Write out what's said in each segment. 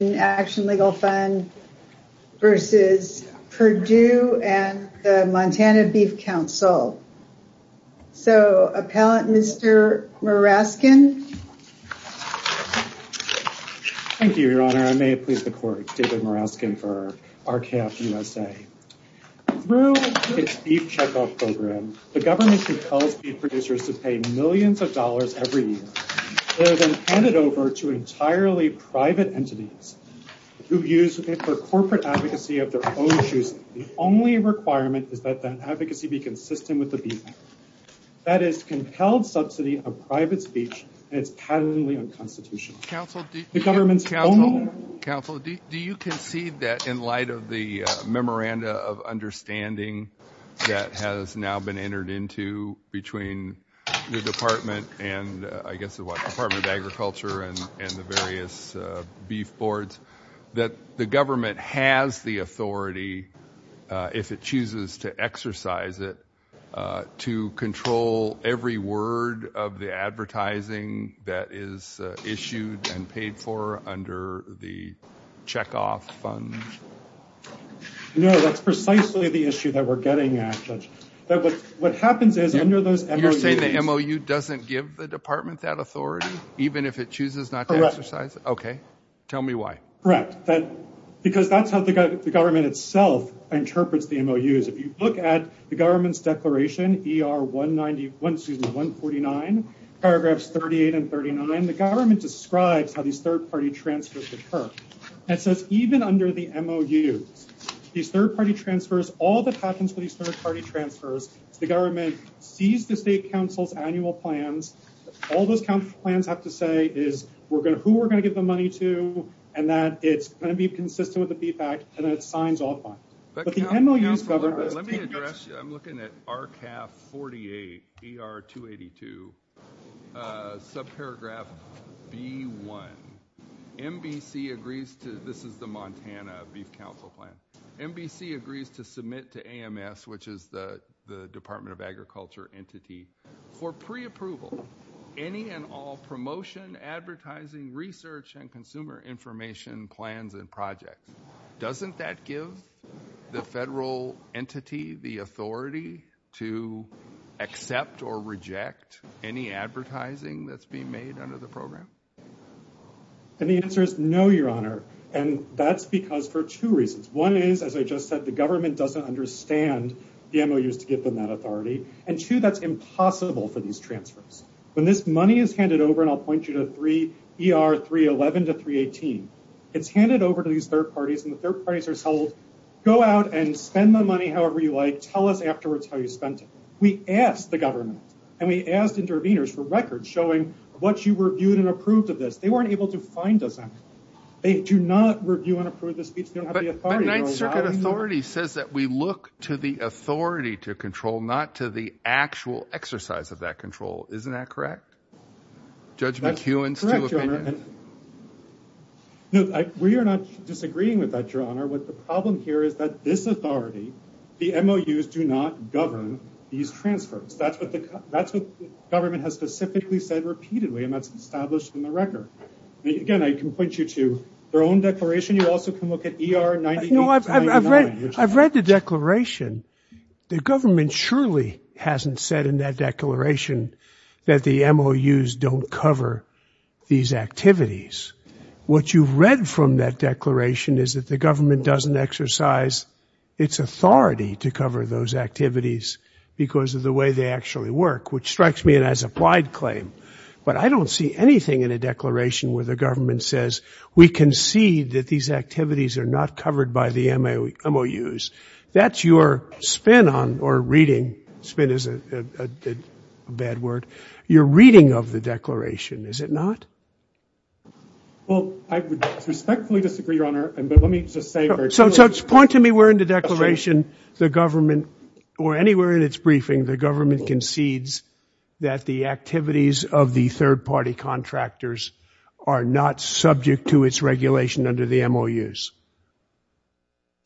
in Action Legal Fund v. Perdue and the Montana Beef Council. So Appellant Mr. Muraskin. Thank you Your Honor. I may have pleased the court, David Muraskin for R-CALF USA. Through its beef checkoff program, the government compels beef producers to pay millions of dollars who use it for corporate advocacy of their own choosing. The only requirement is that that advocacy be consistent with the beef act. That is compelled subsidy of private speech and it's patently unconstitutional. Counsel do you concede that in light of the memoranda of understanding that has now been entered into between your department and I guess the Department of Agriculture and the various beef boards that the government has the authority if it chooses to exercise it to control every word of the advertising that is issued and paid for under the checkoff fund? No, that's precisely the issue that we're getting at. What happens is under those MOUs... You're saying the MOU doesn't give the department that authority even if it chooses not to exercise it? Okay. Tell me why. Correct. Because that's how the government itself interprets the MOUs. If you look at the government's declaration, ER-149, paragraphs 38 and 39, the government describes how these third party transfers occur and it says even under the MOUs, these third party transfers, all that happens with these third party transfers, the government sees the state council's annual plans, all those council plans have to say is who we're going to give the money to and that it's going to be consistent with the feedback and that it signs all funds. But the MOUs... Let me address you. I'm looking at RCAF-48, ER-282, subparagraph B-1. MBC agrees to... This is the Montana Beef Council Plan. MBC agrees to submit to AMS, which is the Department of Agriculture entity, for preapproval any and all promotion, advertising, research, and consumer information plans and projects. Doesn't that give the federal entity the authority to accept or reject any advertising that's being made under the program? And the answer is no, your honor. And that's because for two reasons. One is, as I just said, the government doesn't understand the MOUs to give them that authority. And two, that's impossible for these transfers. When this money is handed over, and I'll point you to ER-311 to 318, it's handed over to these third parties and the third parties are told, go out and spend the money however you like. Tell us afterwards how you spent it. We asked the government and we asked interveners for records showing what you reviewed and approved of this. They weren't able to find us anything. They do not review and approve the speech. They don't have the authority. The Ninth Circuit authority says that we look to the authority to control, not to the actual exercise of that control. Isn't that correct? Judge McEwen's two opinions. No, we are not disagreeing with that, your honor. What the problem here is that this authority, the MOUs do not govern these transfers. That's what the government has specifically said repeatedly and that's established in the record. Again, I can point you to their own declaration. In addition, you also can look at ER-9899. I've read the declaration. The government surely hasn't said in that declaration that the MOUs don't cover these activities. What you've read from that declaration is that the government doesn't exercise its authority to cover those activities because of the way they actually work, which strikes me as an applied claim. But I don't see anything in a declaration where the government says we concede that these activities are not covered by the MOUs. That's your spin on, or reading, spin is a bad word, your reading of the declaration, is it not? Well, I would respectfully disagree, your honor, but let me just say- So point to me where in the declaration the government, or anywhere in its briefing, the government concedes that the activities of the third party contractors are not subject to its regulation under the MOUs.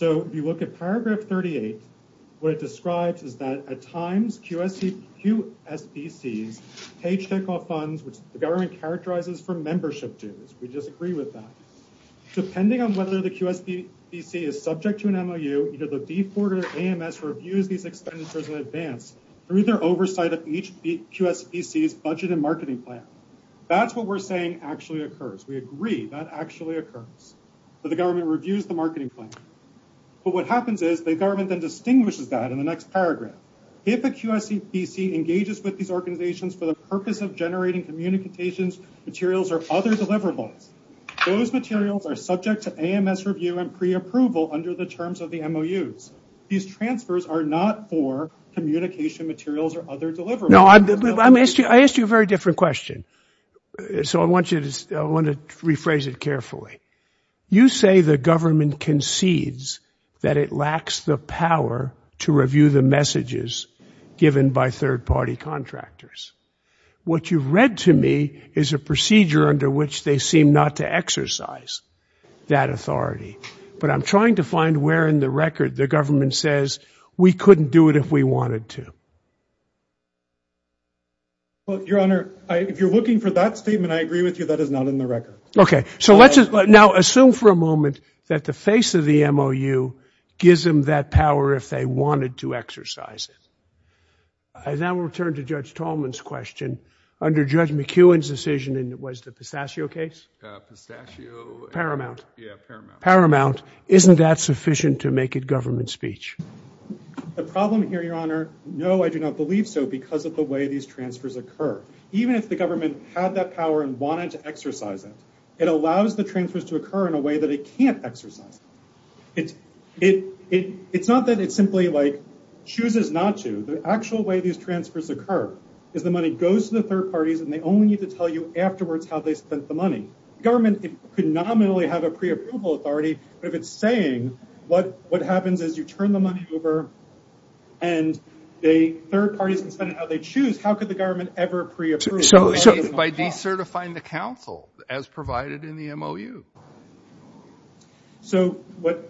So if you look at paragraph 38, what it describes is that at times QSBCs pay checkoff funds, which the government characterizes for membership dues. We disagree with that. Depending on whether the QSBC is subject to an MOU, either the B4 or AMS reviews these expenditures in advance through their oversight of each QSBC's budget and marketing plan. That's what we're saying actually occurs. We agree that actually occurs, that the government reviews the marketing plan, but what happens is the government then distinguishes that in the next paragraph. If a QSBC engages with these organizations for the purpose of generating communications materials or other deliverables, those materials are subject to AMS review and pre-approval under the terms of the MOUs. These transfers are not for communication materials or other deliverables. No, I asked you a very different question, so I want to rephrase it carefully. You say the government concedes that it lacks the power to review the messages given by third party contractors. What you've read to me is a procedure under which they seem not to exercise that authority, but I'm trying to find where in the record the government says, we couldn't do it if we wanted to. Well, Your Honor, if you're looking for that statement, I agree with you, that is not in the record. Okay. So let's just now assume for a moment that the face of the MOU gives them that power if they wanted to exercise it. I now will return to Judge Tallman's question. Under Judge McEwen's decision, and it was the pistachio case, Paramount, isn't that sufficient to make it government speech? The problem here, Your Honor, no, I do not believe so because of the way these transfers occur. Even if the government had that power and wanted to exercise it, it allows the transfers to occur in a way that it can't exercise. It's not that it simply chooses not to. The actual way these transfers occur is the money goes to the third parties and they only need to tell you afterwards how they spent the money. The government could nominally have a pre-approval authority, but if it's saying what happens is you turn the money over and third parties can spend it how they choose, how could the government ever pre-approve it? By decertifying the council as provided in the MOU. So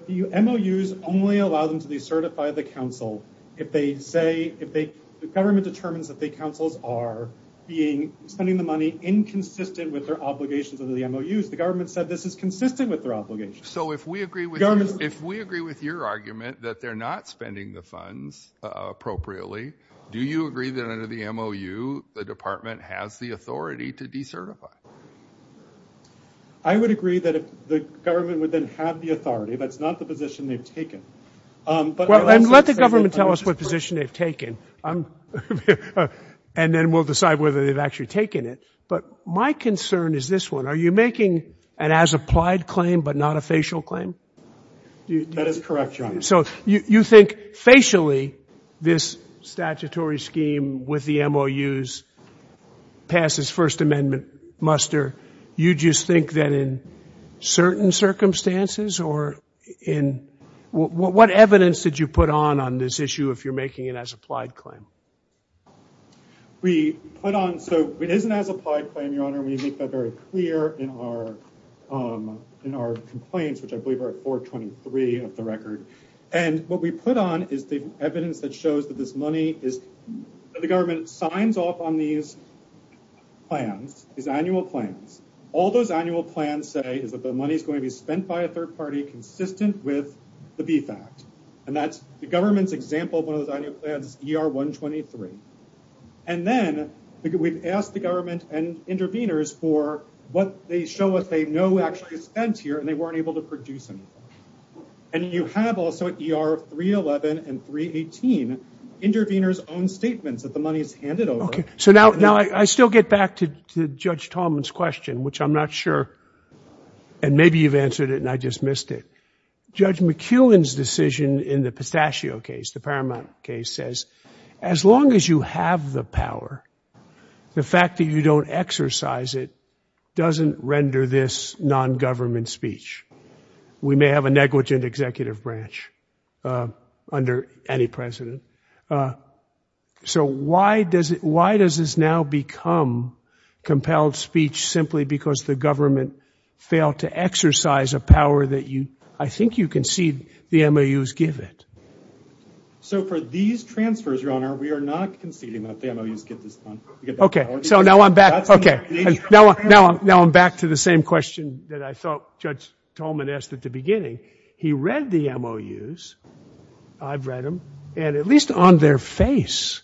MOUs only allow them to decertify the council if the government determines that the councils are spending the money inconsistent with their obligations under the MOUs. The government said this is consistent with their obligations. So if we agree with your argument that they're not spending the funds appropriately, do you agree that under the MOU the department has the authority to decertify? I would agree that the government would then have the authority, but it's not the position they've taken. Well, then let the government tell us what position they've taken and then we'll decide whether they've actually taken it. But my concern is this one. Are you making an as-applied claim but not a facial claim? That is correct, Your Honor. So you think facially this statutory scheme with the MOUs passes First Amendment muster. You just think that in certain circumstances or in what evidence did you put on on this issue if you're making an as-applied claim? We put on, so it is an as-applied claim, Your Honor, and we make that very clear in our complaints, which I believe are at 423 of the record. And what we put on is the evidence that shows that this money is, that the government signs off on these plans, these annual plans. All those annual plans say is that the money is going to be spent by a third party consistent with the BFACT. And that's the government's example of one of those annual plans, ER 123. And then we've asked the government and intervenors for what they show us they know actually is spent here and they weren't able to produce anything. And you have also ER 311 and 318, intervenors' own statements that the money is handed over. So now I still get back to Judge Tallman's question, which I'm not sure, and maybe you've answered it and I just missed it. Judge McEwen's decision in the Pistachio case, the Paramount case, says as long as you have the power, the fact that you don't exercise it doesn't render this non-government speech. We may have a negligent executive branch under any president. So why does this now become compelled speech simply because the government failed to exercise a power that I think you concede the MOUs give it? So for these transfers, Your Honor, we are not conceding that the MOUs get this money. Okay. So now I'm back to the same question that I thought Judge Tallman asked at the beginning. He read the MOUs, I've read them, and at least on their face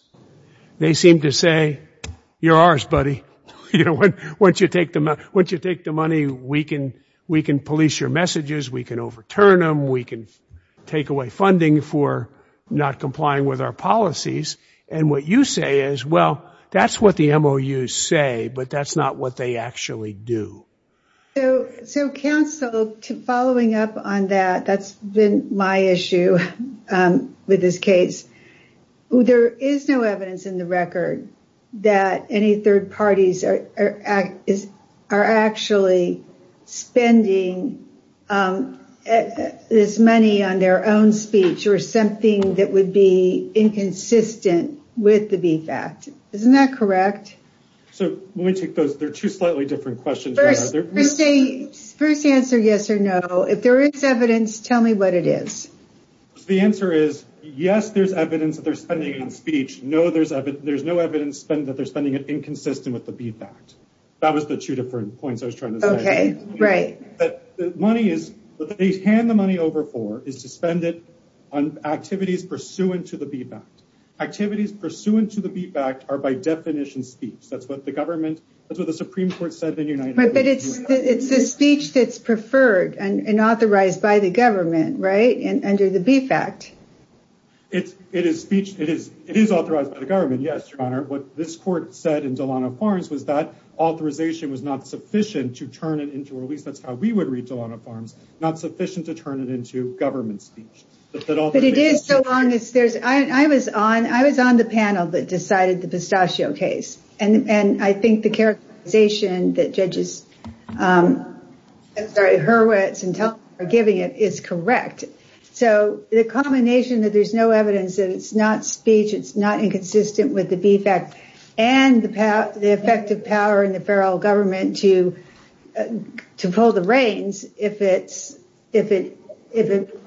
they seem to say, you're ours, buddy. Once you take the money, we can police your messages, we can overturn them, we can take away funding for not complying with our policies. And what you say is, well, that's what the MOUs say, but that's not what they actually do. So counsel, following up on that, that's been my issue with this case. There is no evidence in the record that any third parties are actually spending this money on their own speech or something that would be inconsistent with the VFACT. Isn't that correct? So let me take those. They're two slightly different questions. First answer, yes or no. If there is evidence, tell me what it is. The answer is, yes, there's evidence that they're spending on speech. No, there's no evidence that they're spending it inconsistent with the VFACT. That was the two different points I was trying to say. Okay. Right. But the money is, what they hand the money over for is to spend it on activities pursuant to the VFACT. Activities pursuant to the VFACT are by definition speech. That's what the government, that's what the Supreme Court said in United Nations. But it's the speech that's preferred and authorized by the government, right? Under the VFACT. It's, it is speech. It is, it is authorized by the government. Yes, Your Honor. What this court said in Delano Farms was that authorization was not sufficient to turn it into, or at least that's how we would read Delano Farms, not sufficient to turn it into government speech. But it is so long as there's, I was on, I was on the panel that decided the pistachio case. And, and I think the characterization that judges, I'm sorry, Hurwitz and Teller are giving it is correct. So the combination that there's no evidence that it's not speech, it's not inconsistent with the VFACT and the power, the effective power in the federal government to, to pull the reins if it's, if it, if it,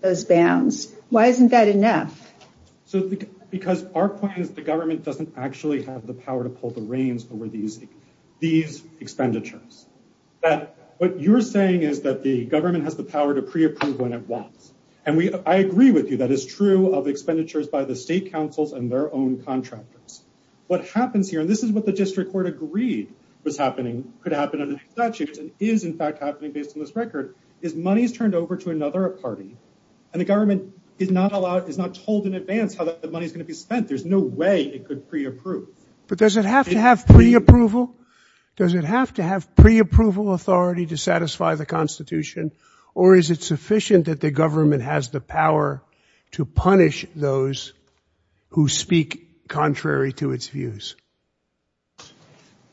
those bounds. Why isn't that enough? So, because our point is the government doesn't actually have the power to pull the reins over these, these expenditures. That what you're saying is that the government has the power to pre-approve when it wants. And we, I agree with you, that is true of expenditures by the state councils and their own contractors. What happens here, and this is what the district court agreed was happening, could happen under statutes and is in fact happening based on this record, is money's turned over to another party and the government is not allowed, is not told in advance how the money is going to be spent. There's no way it could pre-approve. But does it have to have pre-approval? Does it have to have pre-approval authority to satisfy the constitution? Or is it sufficient that the government has the power to punish those who speak contrary to its views?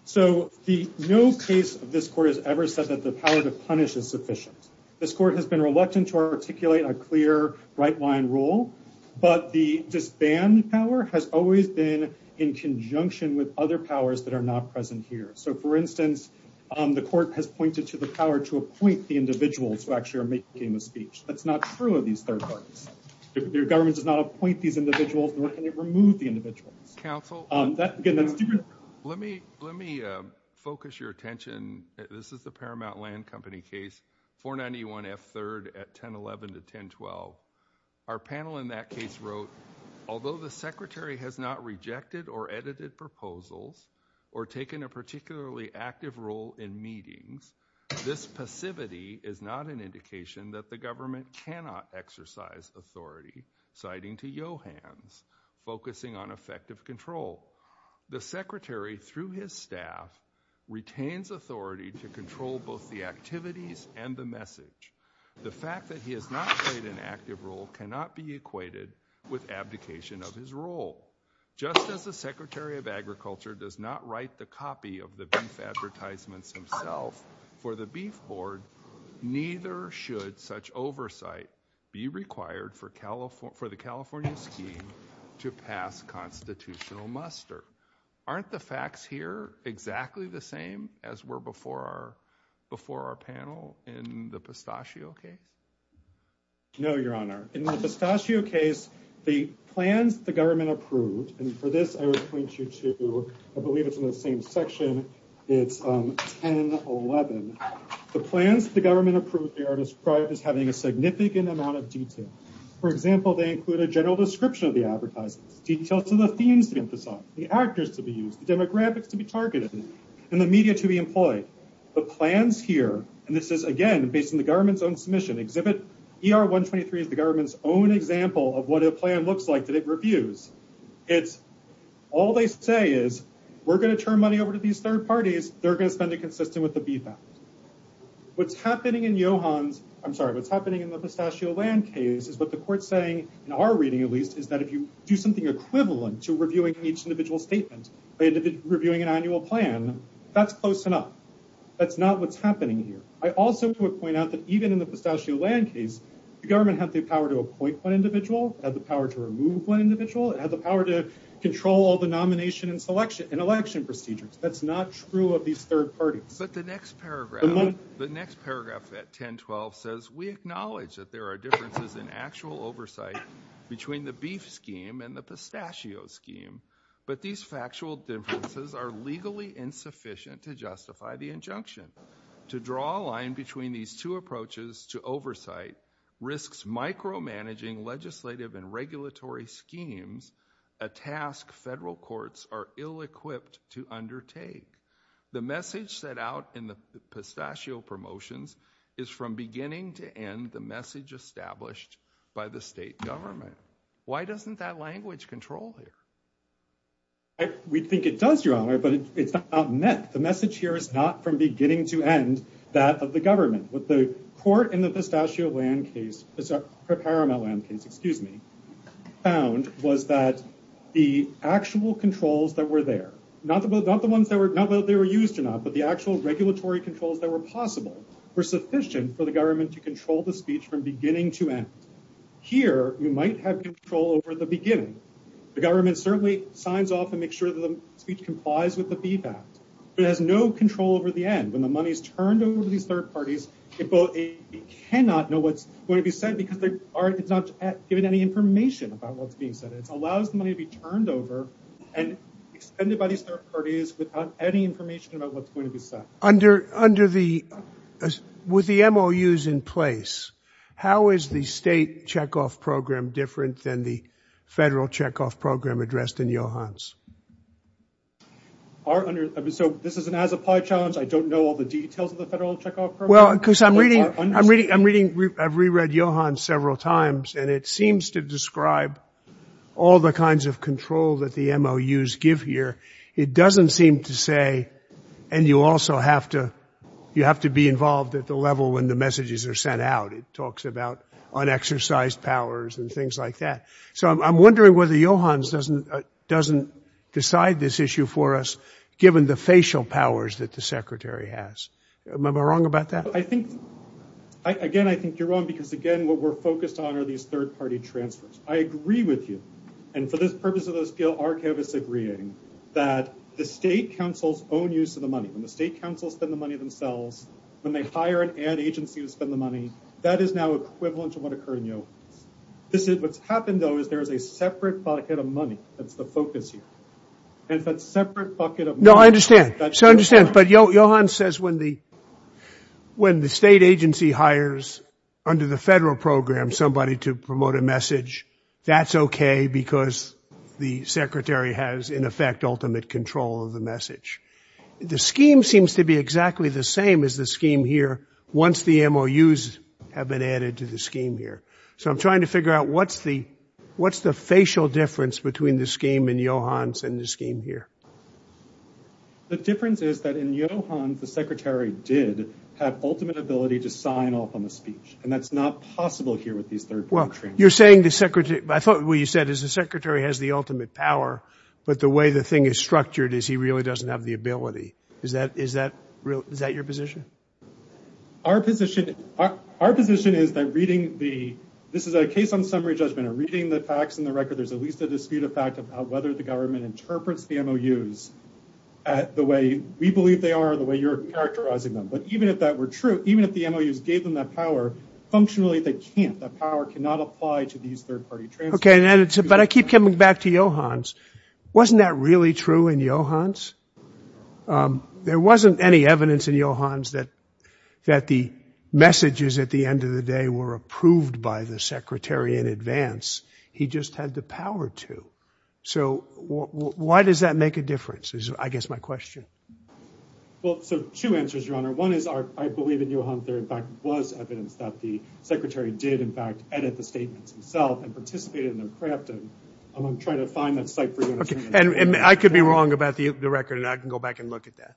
So the, no case of this court has ever said that the power to punish is sufficient. This court has been reluctant to articulate a clear right-wine rule, but the disband power has always been in conjunction with other powers that are not present here. So for instance, the court has pointed to the power to appoint the individuals who actually are making the speech. That's not true of these third parties. Your government does not appoint these individuals nor can it remove the individuals. Counsel, let me, let me focus your attention. This is the Paramount Land Company case, 491 F. 3rd at 1011 to 1012. Our panel in that case wrote, although the secretary has not rejected or edited proposals or taken a particularly active role in meetings, this passivity is not an indication that the government cannot exercise authority, citing to Johans, focusing on effective control. The secretary, through his staff, retains authority to control both the activities and the message. The fact that he has not played an active role cannot be equated with abdication of his role. Just as the secretary of agriculture does not write the copy of the beef advertisements himself for the beef board, neither should such oversight be required for California, for the California scheme to pass constitutional muster. Aren't the facts here exactly the same as were before our before our panel in the pistachio case? No, your honor. In the pistachio case, the plans the government approved. And for this, I would point you to, I believe it's in the same section. It's 1011. The plans the government approved are described as having a significant amount of detail. For example, they include a general description of the advertisers, details of the themes the actors to be used, the demographics to be targeted, and the media to be employed. The plans here, and this is, again, based on the government's own submission, exhibit ER 123 is the government's own example of what a plan looks like that it reviews. It's all they say is we're going to turn money over to these third parties. They're going to spend it consistent with the beef. What's happening in Johans, I'm sorry, what's happening in the pistachio land case is what the court's saying in our reading, at least, is that if you do something equivalent to reviewing each individual statement, reviewing an annual plan, that's close enough. That's not what's happening here. I also would point out that even in the pistachio land case, the government had the power to appoint one individual, had the power to remove one individual, had the power to control all the nomination and selection and election procedures. That's not true of these third parties. But the next paragraph, the next paragraph at 1012 says we acknowledge that there are but these factual differences are legally insufficient to justify the injunction. To draw a line between these two approaches to oversight risks micromanaging legislative and regulatory schemes, a task federal courts are ill-equipped to undertake. The message set out in the pistachio promotions is from beginning to end the message established by the state government. Why doesn't that language control it? We think it does, Your Honor, but it's not meant. The message here is not from beginning to end that of the government. What the court in the pistachio land case, Paramount land case, excuse me, found was that the actual controls that were there, not the ones that were used enough, but the actual regulatory controls that were possible were sufficient for the government to control the speech from beginning to end. Here, you might have control over the beginning. The government certainly signs off and make sure that the speech complies with the beef act, but it has no control over the end. When the money is turned over to these third parties, it cannot know what's going to be said because it's not given any information about what's being said. It allows the money to be turned over and expended by these third parties without any information about what's going to be said. Under the, with the MOUs in place, how is the state checkoff program different than the federal checkoff program addressed in Johans? So this is an as-applied challenge. I don't know all the details of the federal checkoff program. Well, because I'm reading, I'm reading, I've reread Johans several times and it seems to describe all the kinds of control that the MOUs give here. It doesn't seem to say, and you also have to, you have to be involved at the level when the messages are sent out. It talks about unexercised powers and things like that. So I'm wondering whether Johans doesn't, doesn't decide this issue for us given the facial powers that the secretary has. Am I wrong about that? I think, again, I think you're wrong because again, what we're focused on are these third party transfers. I agree with you. And for this purpose of this bill, our cabinet is agreeing that the state councils own use of the money. When the state councils spend the money themselves, when they hire an ad agency to spend the money, that is now equivalent to what occurred in Johans. This is what's happened though, is there is a separate bucket of money. That's the focus here. And if that separate bucket of money- No, I understand. So I understand. But Johans says when the, when the state agency hires under the federal program, somebody to promote a message, that's okay because the secretary has, in effect, ultimate control of the message. The scheme seems to be exactly the same as the scheme here once the MOUs have been added to the scheme here. So I'm trying to figure out what's the, what's the facial difference between the scheme in Johans and the scheme here? The difference is that in Johans, the secretary did have ultimate ability to sign off on the You're saying the secretary, I thought what you said is the secretary has the ultimate power, but the way the thing is structured is he really doesn't have the ability. Is that, is that real? Is that your position? Our position, our position is that reading the, this is a case on summary judgment or reading the facts and the record, there's at least a dispute of fact about whether the government interprets the MOUs at the way we believe they are, the way you're characterizing them. But even if that were true, even if the MOUs gave them that power, functionally they can't. That power cannot apply to these third party transcripts. Okay. But I keep coming back to Johans. Wasn't that really true in Johans? There wasn't any evidence in Johans that, that the messages at the end of the day were approved by the secretary in advance. He just had the power to. So why does that make a difference? Is I guess my question. Well, so two answers, Your Honor. One is our, I believe in Johans, there in fact was evidence that the secretary did in fact edit the statements himself and participated in their crafting. I'm trying to find that site for you. Okay. And I could be wrong about the record and I can go back and look at that.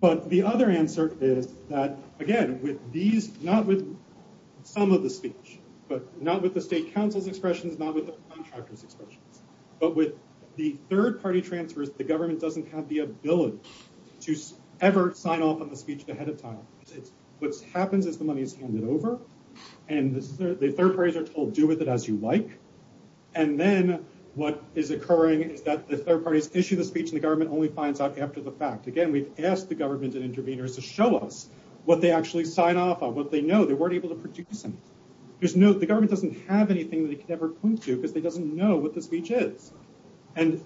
But the other answer is that again, with these, not with some of the speech, but not with the state council's expressions, not with the contractor's expressions, but with the third party transfers, the government doesn't have the ability to ever sign off on the speech ahead of time. What's happens is the money is handed over and the third parties are told, do with it as you like. And then what is occurring is that the third parties issue the speech and the government only finds out after the fact. Again, we've asked the government and interveners to show us what they actually sign off on, what they know they weren't able to produce. There's no, the government doesn't have anything that they could ever point to because they doesn't know what the speech is. And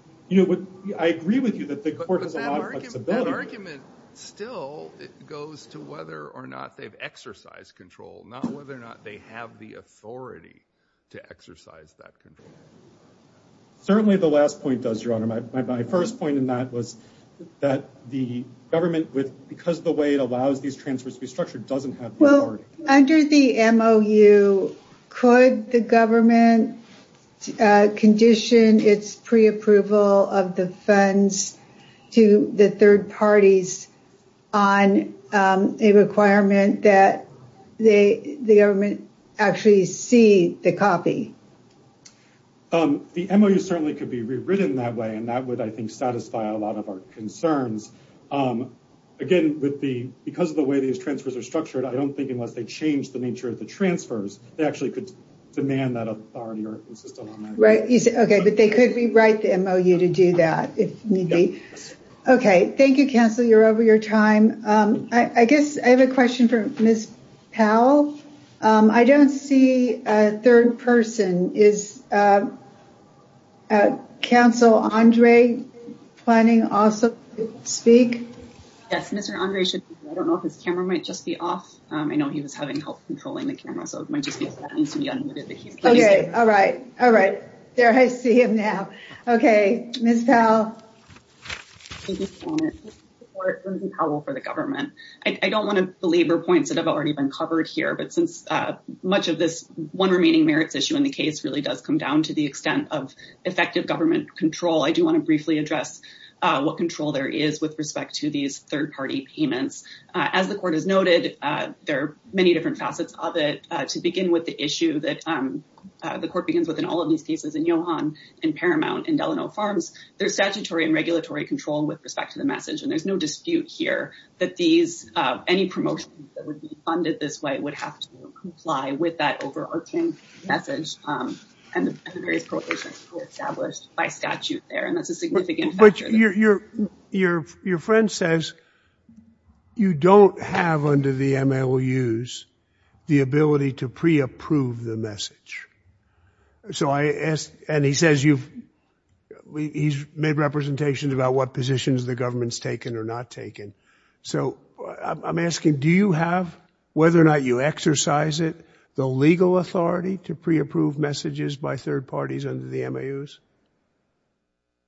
I agree with you that the court has a lot of flexibility. But that argument still goes to whether or not they've exercised control, not whether or not they have the authority to exercise that control. Certainly the last point does, Your Honor. My first point in that was that the government, because of the way it allows these transfers to be structured, doesn't have authority. Under the MOU, could the government condition its pre-approval of the funds to the third parties on a requirement that the government actually see the copy? The MOU certainly could be rewritten that way. And that would, I think, satisfy a lot of our concerns. Again, because of the way these transfers are structured, I don't think unless they change the nature of the transfers, they actually could demand that authority or insist on that. Right. Okay. But they could rewrite the MOU to do that if need be. Okay. Thank you, counsel. You're over your time. I guess I have a question for Ms. Powell. I don't see a third person. Is counsel Andre planning also to speak? Yes. Mr. Andre, I don't know if his camera might just be off. I know he was having trouble controlling the camera. So it might just be that it needs to be unmuted. Okay. All right. All right. There, I see him now. Okay. Ms. Powell. Thank you, Your Honor. This is Lindsay Powell for the government. I don't want to belabor points that have already been covered here. But since much of this one remaining merits issue in the case really does come down to the extent of effective government control. I do want to briefly address what control there is with respect to these third-party payments. As the court has noted, there are many different facets of it. To begin with the issue that the court begins with in all of these cases in Johan and Paramount and Delano Farms, there's statutory and regulatory control with respect to the message. And there's no dispute here that any promotion that would be funded this way would have to comply with that overarching message and the various prohibitions that were established by statute there. And that's a significant factor. But your friend says you don't have under the MLUs the ability to pre-approve the message. So I asked, and he says he's made representations about what positions the government's taken or not taken. So I'm asking, do you have, whether or not you exercise it, the legal authority to pre-approve messages by third parties under the MLUs?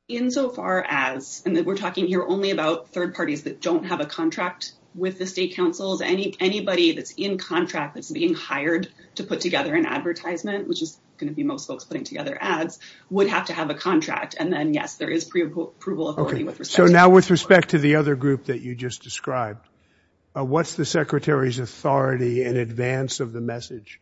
Insofar as, and we're talking here only about third parties that don't have a contract with the state councils, anybody that's in contract that's being hired to put together an advertisement which is going to be most folks putting together ads would have to have a contract. And then, yes, there is pre-approval authority with respect to- So now with respect to the other group that you just described, what's the secretary's authority in advance of the message?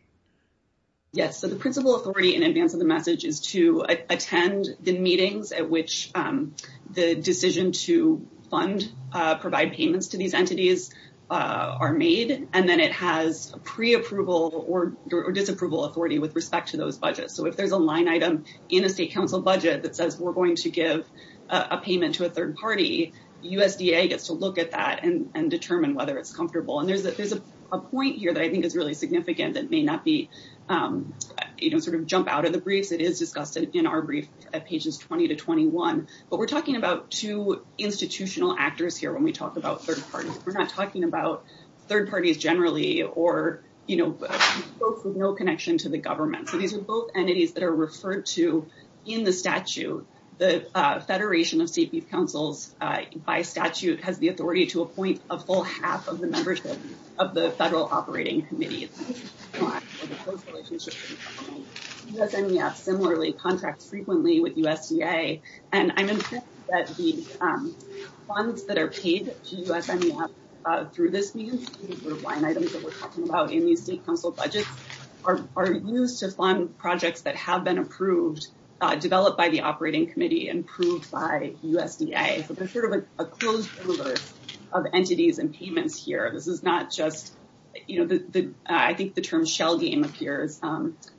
Yes. So the principal authority in advance of the message is to attend the meetings at which the decision to fund, provide payments to these entities are made. And then it has pre-approval or disapproval authority with respect to those budgets. So if there's a line item in a state council budget that says we're going to give a payment to a third party, USDA gets to look at that and determine whether it's comfortable. And there's a point here that I think is really significant that may not be, you know, sort of jump out of the briefs. It is discussed in our brief at pages 20 to 21. But we're talking about two institutional actors here when we talk about third parties. We're not talking about third parties generally or, you know, folks with no connection to the government. So these are both entities that are referred to in the statute. The Federation of State Beef Councils, by statute, has the authority to appoint a full half of the membership of the Federal Operating Committee. It's a close relationship with the government. USMEF similarly contracts frequently with USDA. And I'm impressed that the funds that are paid to USMEF through this means, line items that we're talking about in these state council budgets, are used to fund projects that have been approved, developed by the Operating Committee and approved by USDA. So there's sort of a closed universe of entities and payments here. This is not just, you know, I think the term shell game appears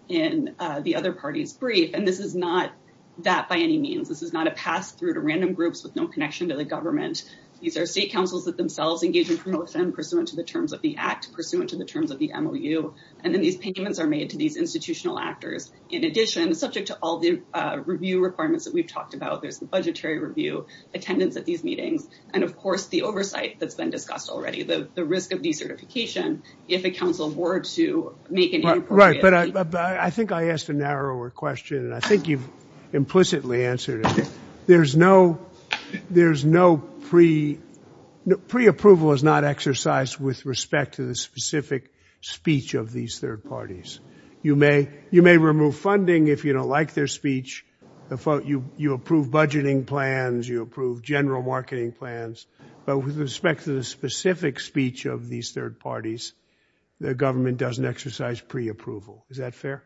in the other party's brief. And this is not that by any means. This is not a pass through to random groups with no connection to the government. These are state councils that themselves engage in promotion pursuant to the terms of the act, pursuant to the terms of the MOU. And then these payments are made to these institutional actors. In addition, subject to all the review requirements that we've talked about, there's the budgetary review, attendance at these meetings, and, of course, the oversight that's been discussed already, the risk of decertification if a council were to make an inappropriate. I think I asked a narrower question, and I think you've implicitly answered it. There's no pre-approval is not exercised with respect to the specific speech of these third parties. You may remove funding if you don't like their speech. You approve budgeting plans. You approve general marketing plans. But with respect to the specific speech of these third parties, the government doesn't pre-approval. Is that fair?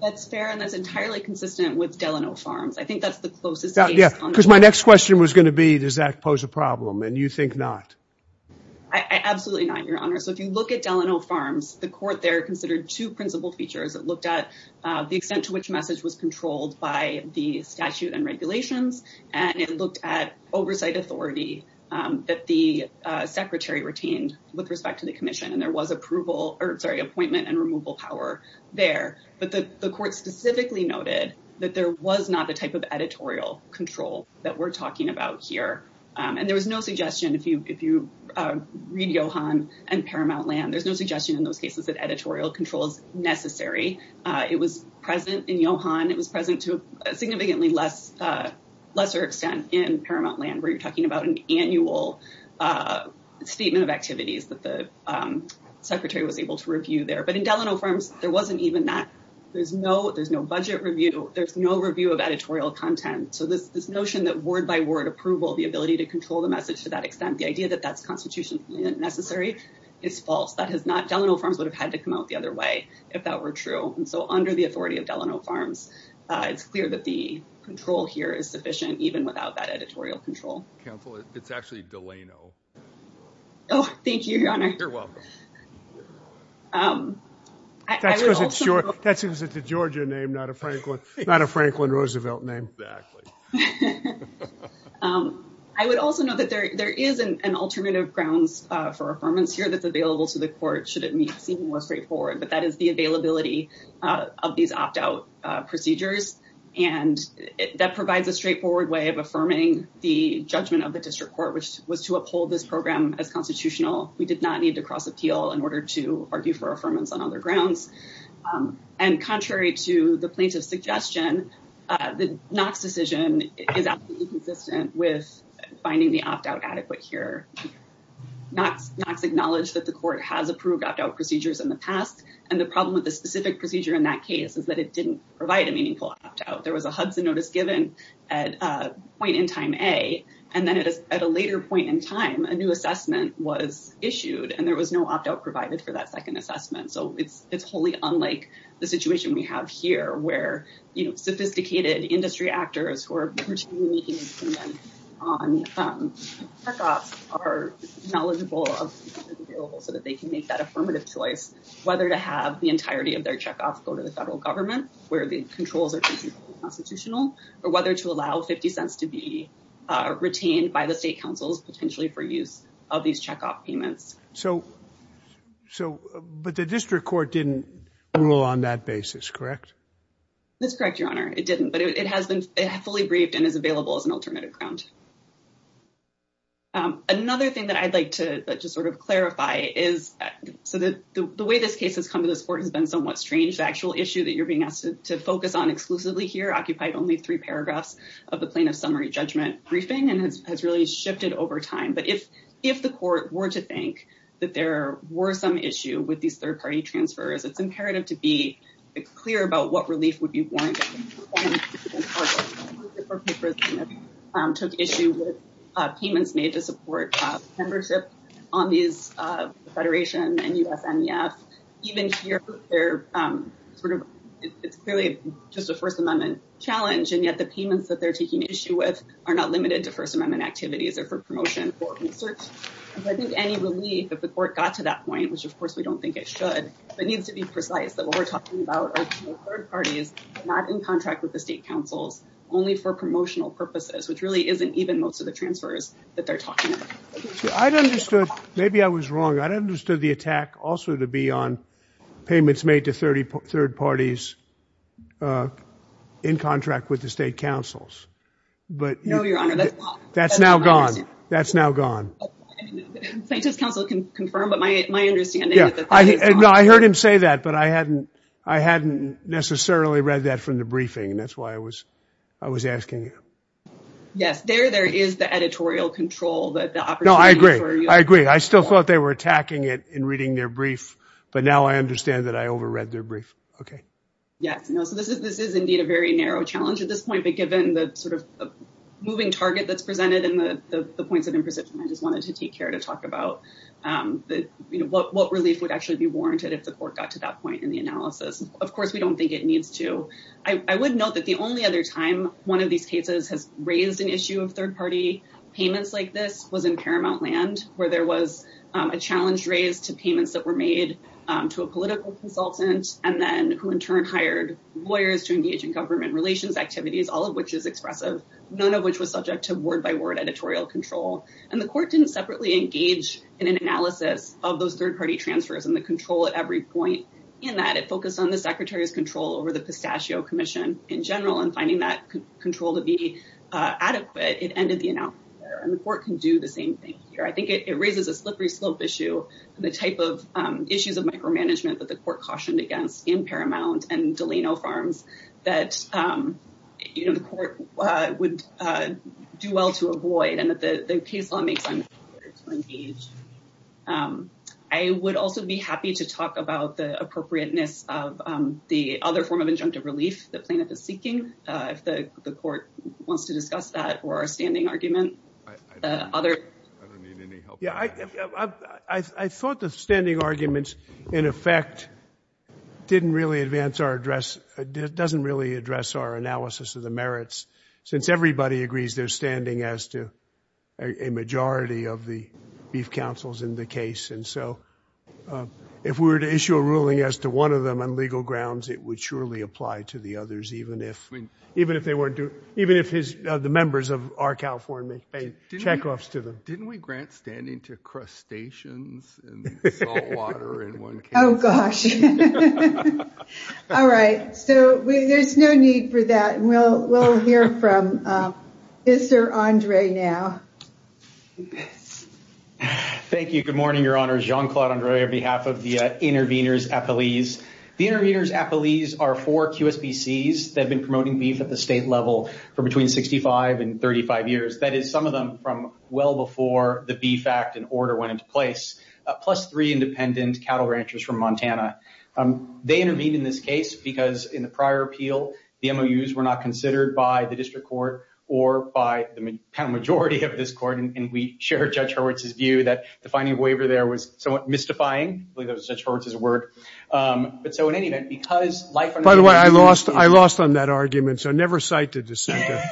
That's fair. And that's entirely consistent with Delano Farms. I think that's the closest. Because my next question was going to be, does that pose a problem? And you think not. Absolutely not, Your Honor. So if you look at Delano Farms, the court there considered two principal features. It looked at the extent to which message was controlled by the statute and regulations, and it looked at oversight authority that the secretary retained with respect to the and removal power there. But the court specifically noted that there was not a type of editorial control that we're talking about here. And there was no suggestion, if you read Johann and Paramount Land, there's no suggestion in those cases that editorial control is necessary. It was present in Johann. It was present to a significantly lesser extent in Paramount Land, where you're talking about an annual statement of activities that the secretary was able to review there. But in Delano Farms, there wasn't even that. There's no budget review. There's no review of editorial content. So this notion that word-by-word approval, the ability to control the message to that extent, the idea that that's constitutionally necessary is false. Delano Farms would have had to come out the other way if that were true. And so under the authority of Delano Farms, it's clear that the control here is sufficient, even without that editorial control. Counsel, it's actually Delano. Oh, thank you, Your Honor. You're welcome. That's because it's a Georgia name, not a Franklin Roosevelt name. Exactly. I would also note that there is an alternative grounds for affirmance here that's available to the court, should it need to seem more straightforward. But that is the availability of these opt-out procedures. And that provides a straightforward way of affirming the judgment of the district court, which was to uphold this program as constitutional. We did not need to cross appeal in order to argue for affirmance on other grounds. And contrary to the plaintiff's suggestion, the Knox decision is absolutely consistent with finding the opt-out adequate here. Knox acknowledged that the court has approved opt-out procedures in the past. And the problem with the specific procedure in that case is that it didn't provide a meaningful opt-out. There was a Hudson notice given at point in time A, and then at a later point in time, a new assessment was issued, and there was no opt-out provided for that second assessment. So it's wholly unlike the situation we have here, where sophisticated industry actors who are continually making improvements on check-offs are knowledgeable of the options available so that they can make that affirmative choice. Whether to have the entirety of their check-off go to the federal government, where the controls are completely constitutional, or whether to allow 50 cents to be retained by the state councils, potentially for use of these check-off payments. So, but the district court didn't rule on that basis, correct? That's correct, Your Honor. It didn't, but it has been fully briefed and is available as an alternative ground. Another thing that I'd like to just sort of clarify is, so the way this case has come to court has been somewhat strange. The actual issue that you're being asked to focus on exclusively here occupied only three paragraphs of the plaintiff's summary judgment briefing, and it has really shifted over time. But if the court were to think that there were some issue with these third-party transfers, it's imperative to be clear about what relief would be warranted. Took issue with payments made to support membership on these federation and USMEF. Even here, they're sort of, it's clearly just a First Amendment challenge, and yet the payments that they're taking issue with are not limited to First Amendment activities or for promotion. But I think any relief, if the court got to that point, which of course we don't think it should, but it needs to be precise that what we're talking about are third parties, not in contract with the state councils, only for promotional purposes, which really isn't even most of the transfers that they're talking about. I'd understood, maybe I was wrong. I'd understood the attack also to be on payments made to third parties in contract with the state councils, but- No, Your Honor, that's not- That's now gone. That's now gone. Plaintiff's counsel can confirm, but my understanding is that- No, I heard him say that, but I hadn't necessarily read that from the briefing, and that's why I was asking you. Yes, there is the editorial control, the opportunity for- No, I agree. I agree. I still thought they were attacking it in reading their brief, but now I understand that I overread their brief. Okay. Yes. No, so this is indeed a very narrow challenge at this point, but given the moving target that's presented and the points of imprecision, I just wanted to take care to talk about what relief would actually be warranted if the court got to that point in the analysis. Of course, we don't think it needs to. I would note that the only other time one of these cases has raised an issue of third party payments like this was in Paramount Land, where there was a challenge raised to payments that were made to a political consultant and then who in turn hired lawyers to engage in government relations activities, all of which is expressive, none of which was subject to word-by-word editorial control. The court didn't separately engage in an analysis of those third party transfers and the control at every point in that it focused on the secretary's control over the pistachio commission in general and finding that control to be adequate. It ended the analysis there, and the court can do the same thing here. I think it raises a slippery slope issue, the type of issues of micromanagement that the court cautioned against in Paramount and Delano Farms that the court would do well to avoid and that the case law makes it harder to engage. I would also be happy to talk about the appropriateness of the other form of injunctive relief the plaintiff is seeking, if the court wants to discuss that or our standing argument. I thought the standing arguments, in effect, doesn't really address our analysis of the merits, since everybody agrees they're standing as to a majority of the beef counsels in the case. And so if we were to issue a ruling as to one of them on legal grounds, it would surely apply to the others, even if the members of our California made check-offs to them. Didn't we grant standing to crustaceans and saltwater in one case? Oh, gosh. All right. So there's no need for that. We'll hear from Mr. Andre now. Yes. Thank you. Good morning, Your Honor. Jean-Claude Andre, on behalf of the Intervenors Appellees. The Intervenors Appellees are four QSBCs that have been promoting beef at the state level for between 65 and 35 years. That is, some of them from well before the Beef Act and order went into place, plus three independent cattle ranchers from Montana. They intervened in this case because, in the prior appeal, the MOUs were not considered by the district court or by the majority of this court. And we share Judge Hurwitz's view that the finding of waiver there was somewhat mystifying. I believe that was Judge Hurwitz's word. But so in any event, because life- By the way, I lost on that argument, so never cite the dissenter.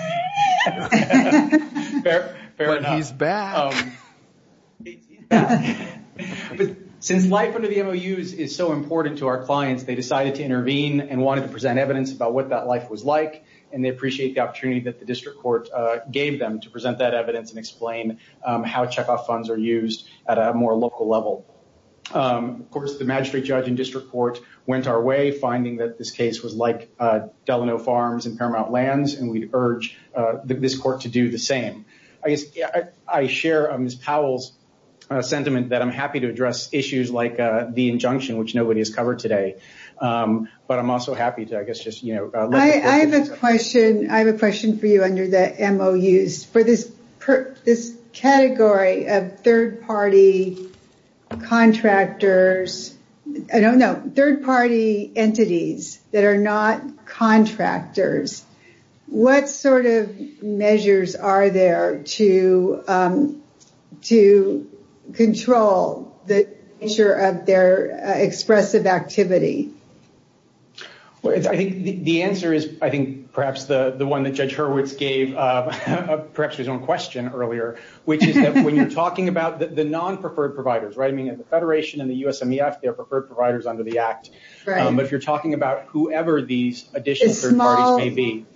He's back. But since life under the MOUs is so important to our clients, they decided to intervene and wanted to present evidence about what that life was like. And they appreciate the opportunity the district court gave them to present that evidence and explain how checkoff funds are used at a more local level. Of course, the magistrate judge and district court went our way, finding that this case was like Delano Farms and Paramount Lands, and we urge this court to do the same. I guess I share Ms. Powell's sentiment that I'm happy to address issues like the injunction, which nobody has covered today. But I'm also happy to, I guess, just, you know- I have a question for you under the MOUs. For this category of third-party contractors, I don't know, third-party entities that are not contractors, what sort of measures are there to control the nature of their expressive activity? Well, I think the answer is, I think, perhaps the one that Judge Hurwitz gave, perhaps his own question earlier, which is that when you're talking about the non-preferred providers, right? I mean, at the Federation and the USMEF, they're preferred providers under the Act. But if you're talking about whoever these additional third parties may be,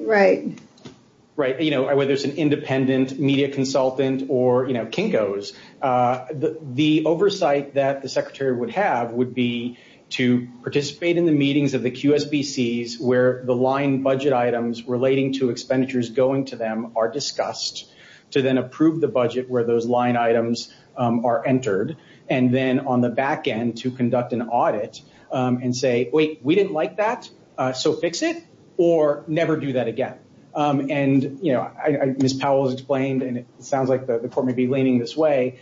right, you know, whether it's an independent media consultant or, you know, Kinko's, the oversight that the Secretary would have would be to participate in the meetings of the QSBCs where the line budget items relating to expenditures going to them are discussed, to then approve the budget where those line items are entered, and then on the back end to conduct an audit and say, wait, we didn't like that, so fix it, or never do that again. And, you know, as Ms. Powell has explained, and it sounds like the Court may be leaning this way,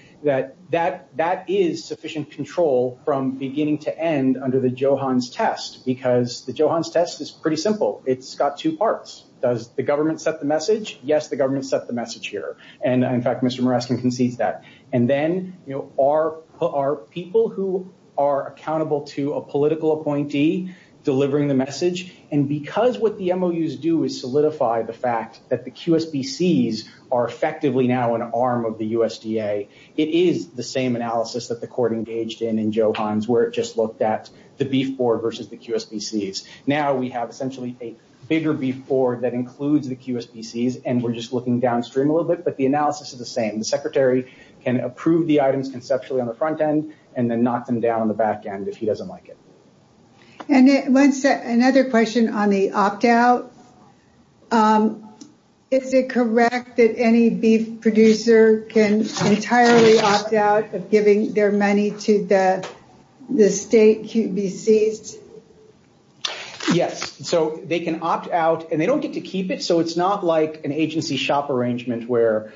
that that is sufficient control from beginning to end under the Johans test, because the Johans test is pretty simple. It's got two parts. Does the government set the message? Yes, the government set the message here. And, in fact, Mr. Morescan concedes that. And then, you know, are people who are accountable to a political appointee delivering the message? And because what the MOUs do is solidify the fact that the QSBCs are effectively now an arm of the USDA, it is the same analysis that the Court engaged in in Johans where it just looked at the beef board versus the QSBCs. Now we have essentially a bigger beef board that includes the QSBCs, and we're just looking downstream a little bit, but the analysis is the same. The Secretary can approve the items conceptually on the front end and then knock them down on the opt-out. Is it correct that any beef producer can entirely opt out of giving their money to the state QSBCs? Yes, so they can opt out, and they don't get to keep it, so it's not like an agency shop arrangement where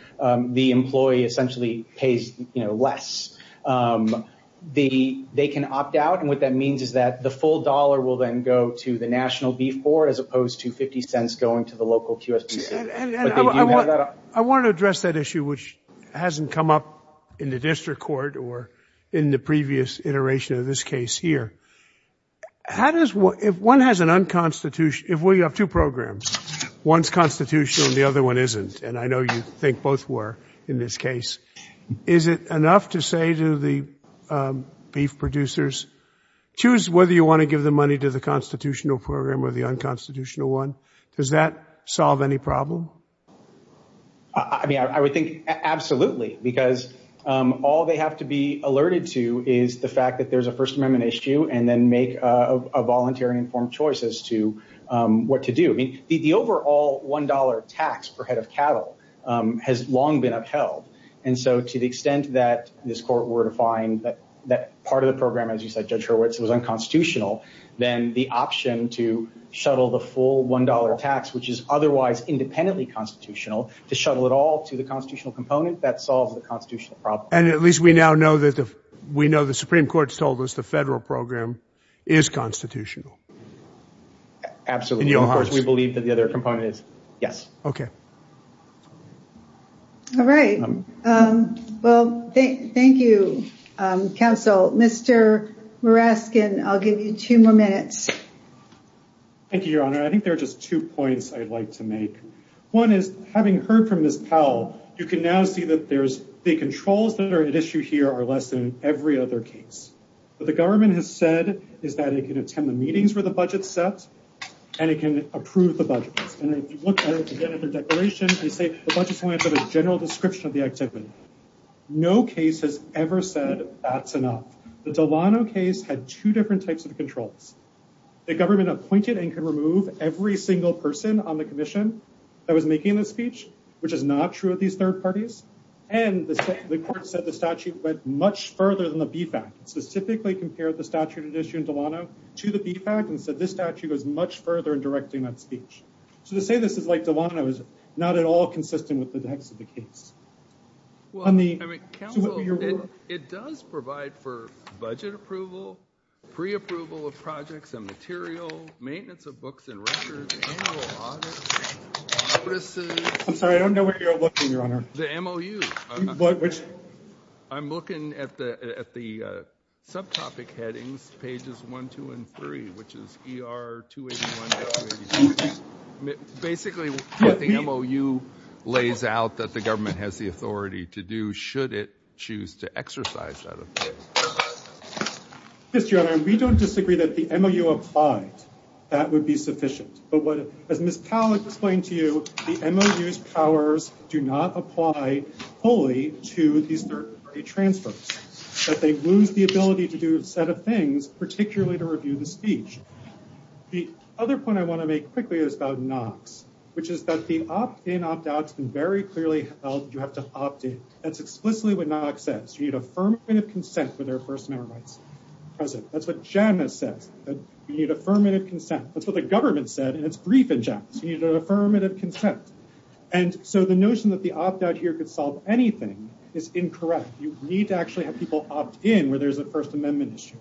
the employee essentially pays, you know, less. They can opt out, and what that means is that the full dollar will then go to the National Beef Board as opposed to $0.50 going to the local QSBC. I want to address that issue which hasn't come up in the district court or in the previous iteration of this case here. How does, if one has an unconstitution, if we have two programs, one's constitutional and the other one isn't, and I know you think both were in this case. Is it enough to say to the beef producers, choose whether you want to give the money to the constitutional program or the unconstitutional one? Does that solve any problem? I mean, I would think absolutely, because all they have to be alerted to is the fact that there's a First Amendment issue and then make a voluntary informed choice as to what to do. I mean, the And so to the extent that this court were to find that part of the program, as you said, Judge Hurwitz, was unconstitutional, then the option to shuttle the full $1 tax, which is otherwise independently constitutional, to shuttle it all to the constitutional component, that solves the constitutional problem. And at least we now know that the, we know the Supreme Court's told us the federal program is constitutional. Absolutely. Of course, we believe that the All right. Well, thank you, counsel. Mr. Muraskin, I'll give you two more minutes. Thank you, Your Honor. I think there are just two points I'd like to make. One is, having heard from Ms. Powell, you can now see that there's, the controls that are at issue here are less than every other case. What the government has said is that it can attend the meetings where the budget's set and it can approve the budget. And if you look at it again at the declaration, they say the budget's going to have a general description of the activity. No case has ever said that's enough. The Delano case had two different types of controls. The government appointed and could remove every single person on the commission that was making the speech, which is not true of these third parties. And the court said the statute went much further than the BFAC, specifically compared the statute at issue in Delano to the BFAC and said this statute goes much further in directing that speech. So to say this is like Delano is not at all consistent with the text of the case. It does provide for budget approval, pre-approval of projects and material, maintenance of books and records, annual audit, offices. I'm sorry, I don't know where you're looking, Your Honor. The MOU. I'm looking at the subtopic headings, pages one, two, and three, which is ER 281-282. Basically what the MOU lays out that the government has the authority to do should it choose to exercise that authority. Yes, Your Honor, we don't disagree that the MOU applied. That would be sufficient. But what, as Ms. Pollack explained to you, the MOU's powers do not apply fully to these third party transfers. That they lose the ability to do a set of things, particularly to review the speech. The other point I want to make quickly is about NOCs, which is that the opt-in, opt-out has been very clearly held. You have to opt-in. That's explicitly what NOC says. You need affirmative consent for their First Amendment rights. That's what JAN has said. You need affirmative consent. That's what the government said, and it's brief in JAN. You need affirmative consent. And so the notion that the opt-out here could solve anything is incorrect. You need to actually have people opt-in where there's a First Amendment issue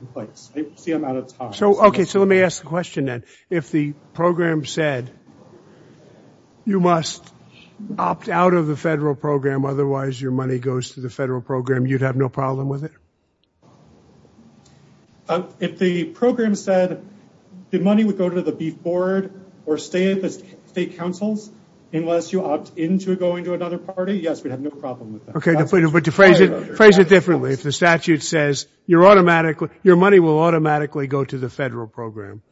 in place. I see I'm out of time. Okay, so let me ask the question then. If the program said you must opt-out of the federal program, otherwise your money goes to the federal program, you'd have no problem with it? If the program said the money would go to the beef board or stay at the state councils, unless you opt-in to going to another party, yes, we'd have no problem with that. Okay, but to phrase it phrase it differently. If the statute says your money will automatically go to the federal program,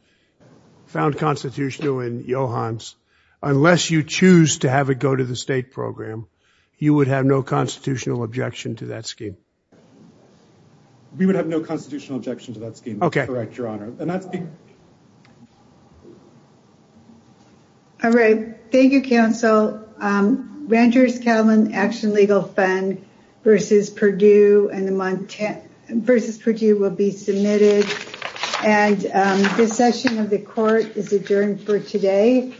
found constitutional in Johans, unless you choose to have it go to the state program, you would have no constitutional objection to that scheme? We would have no constitutional objection to that scheme. That's correct, Your Honor. All right, thank you, counsel. Rangers-Catlin Action Legal Fund versus Purdue will be submitted. And this session of the court is adjourned for today.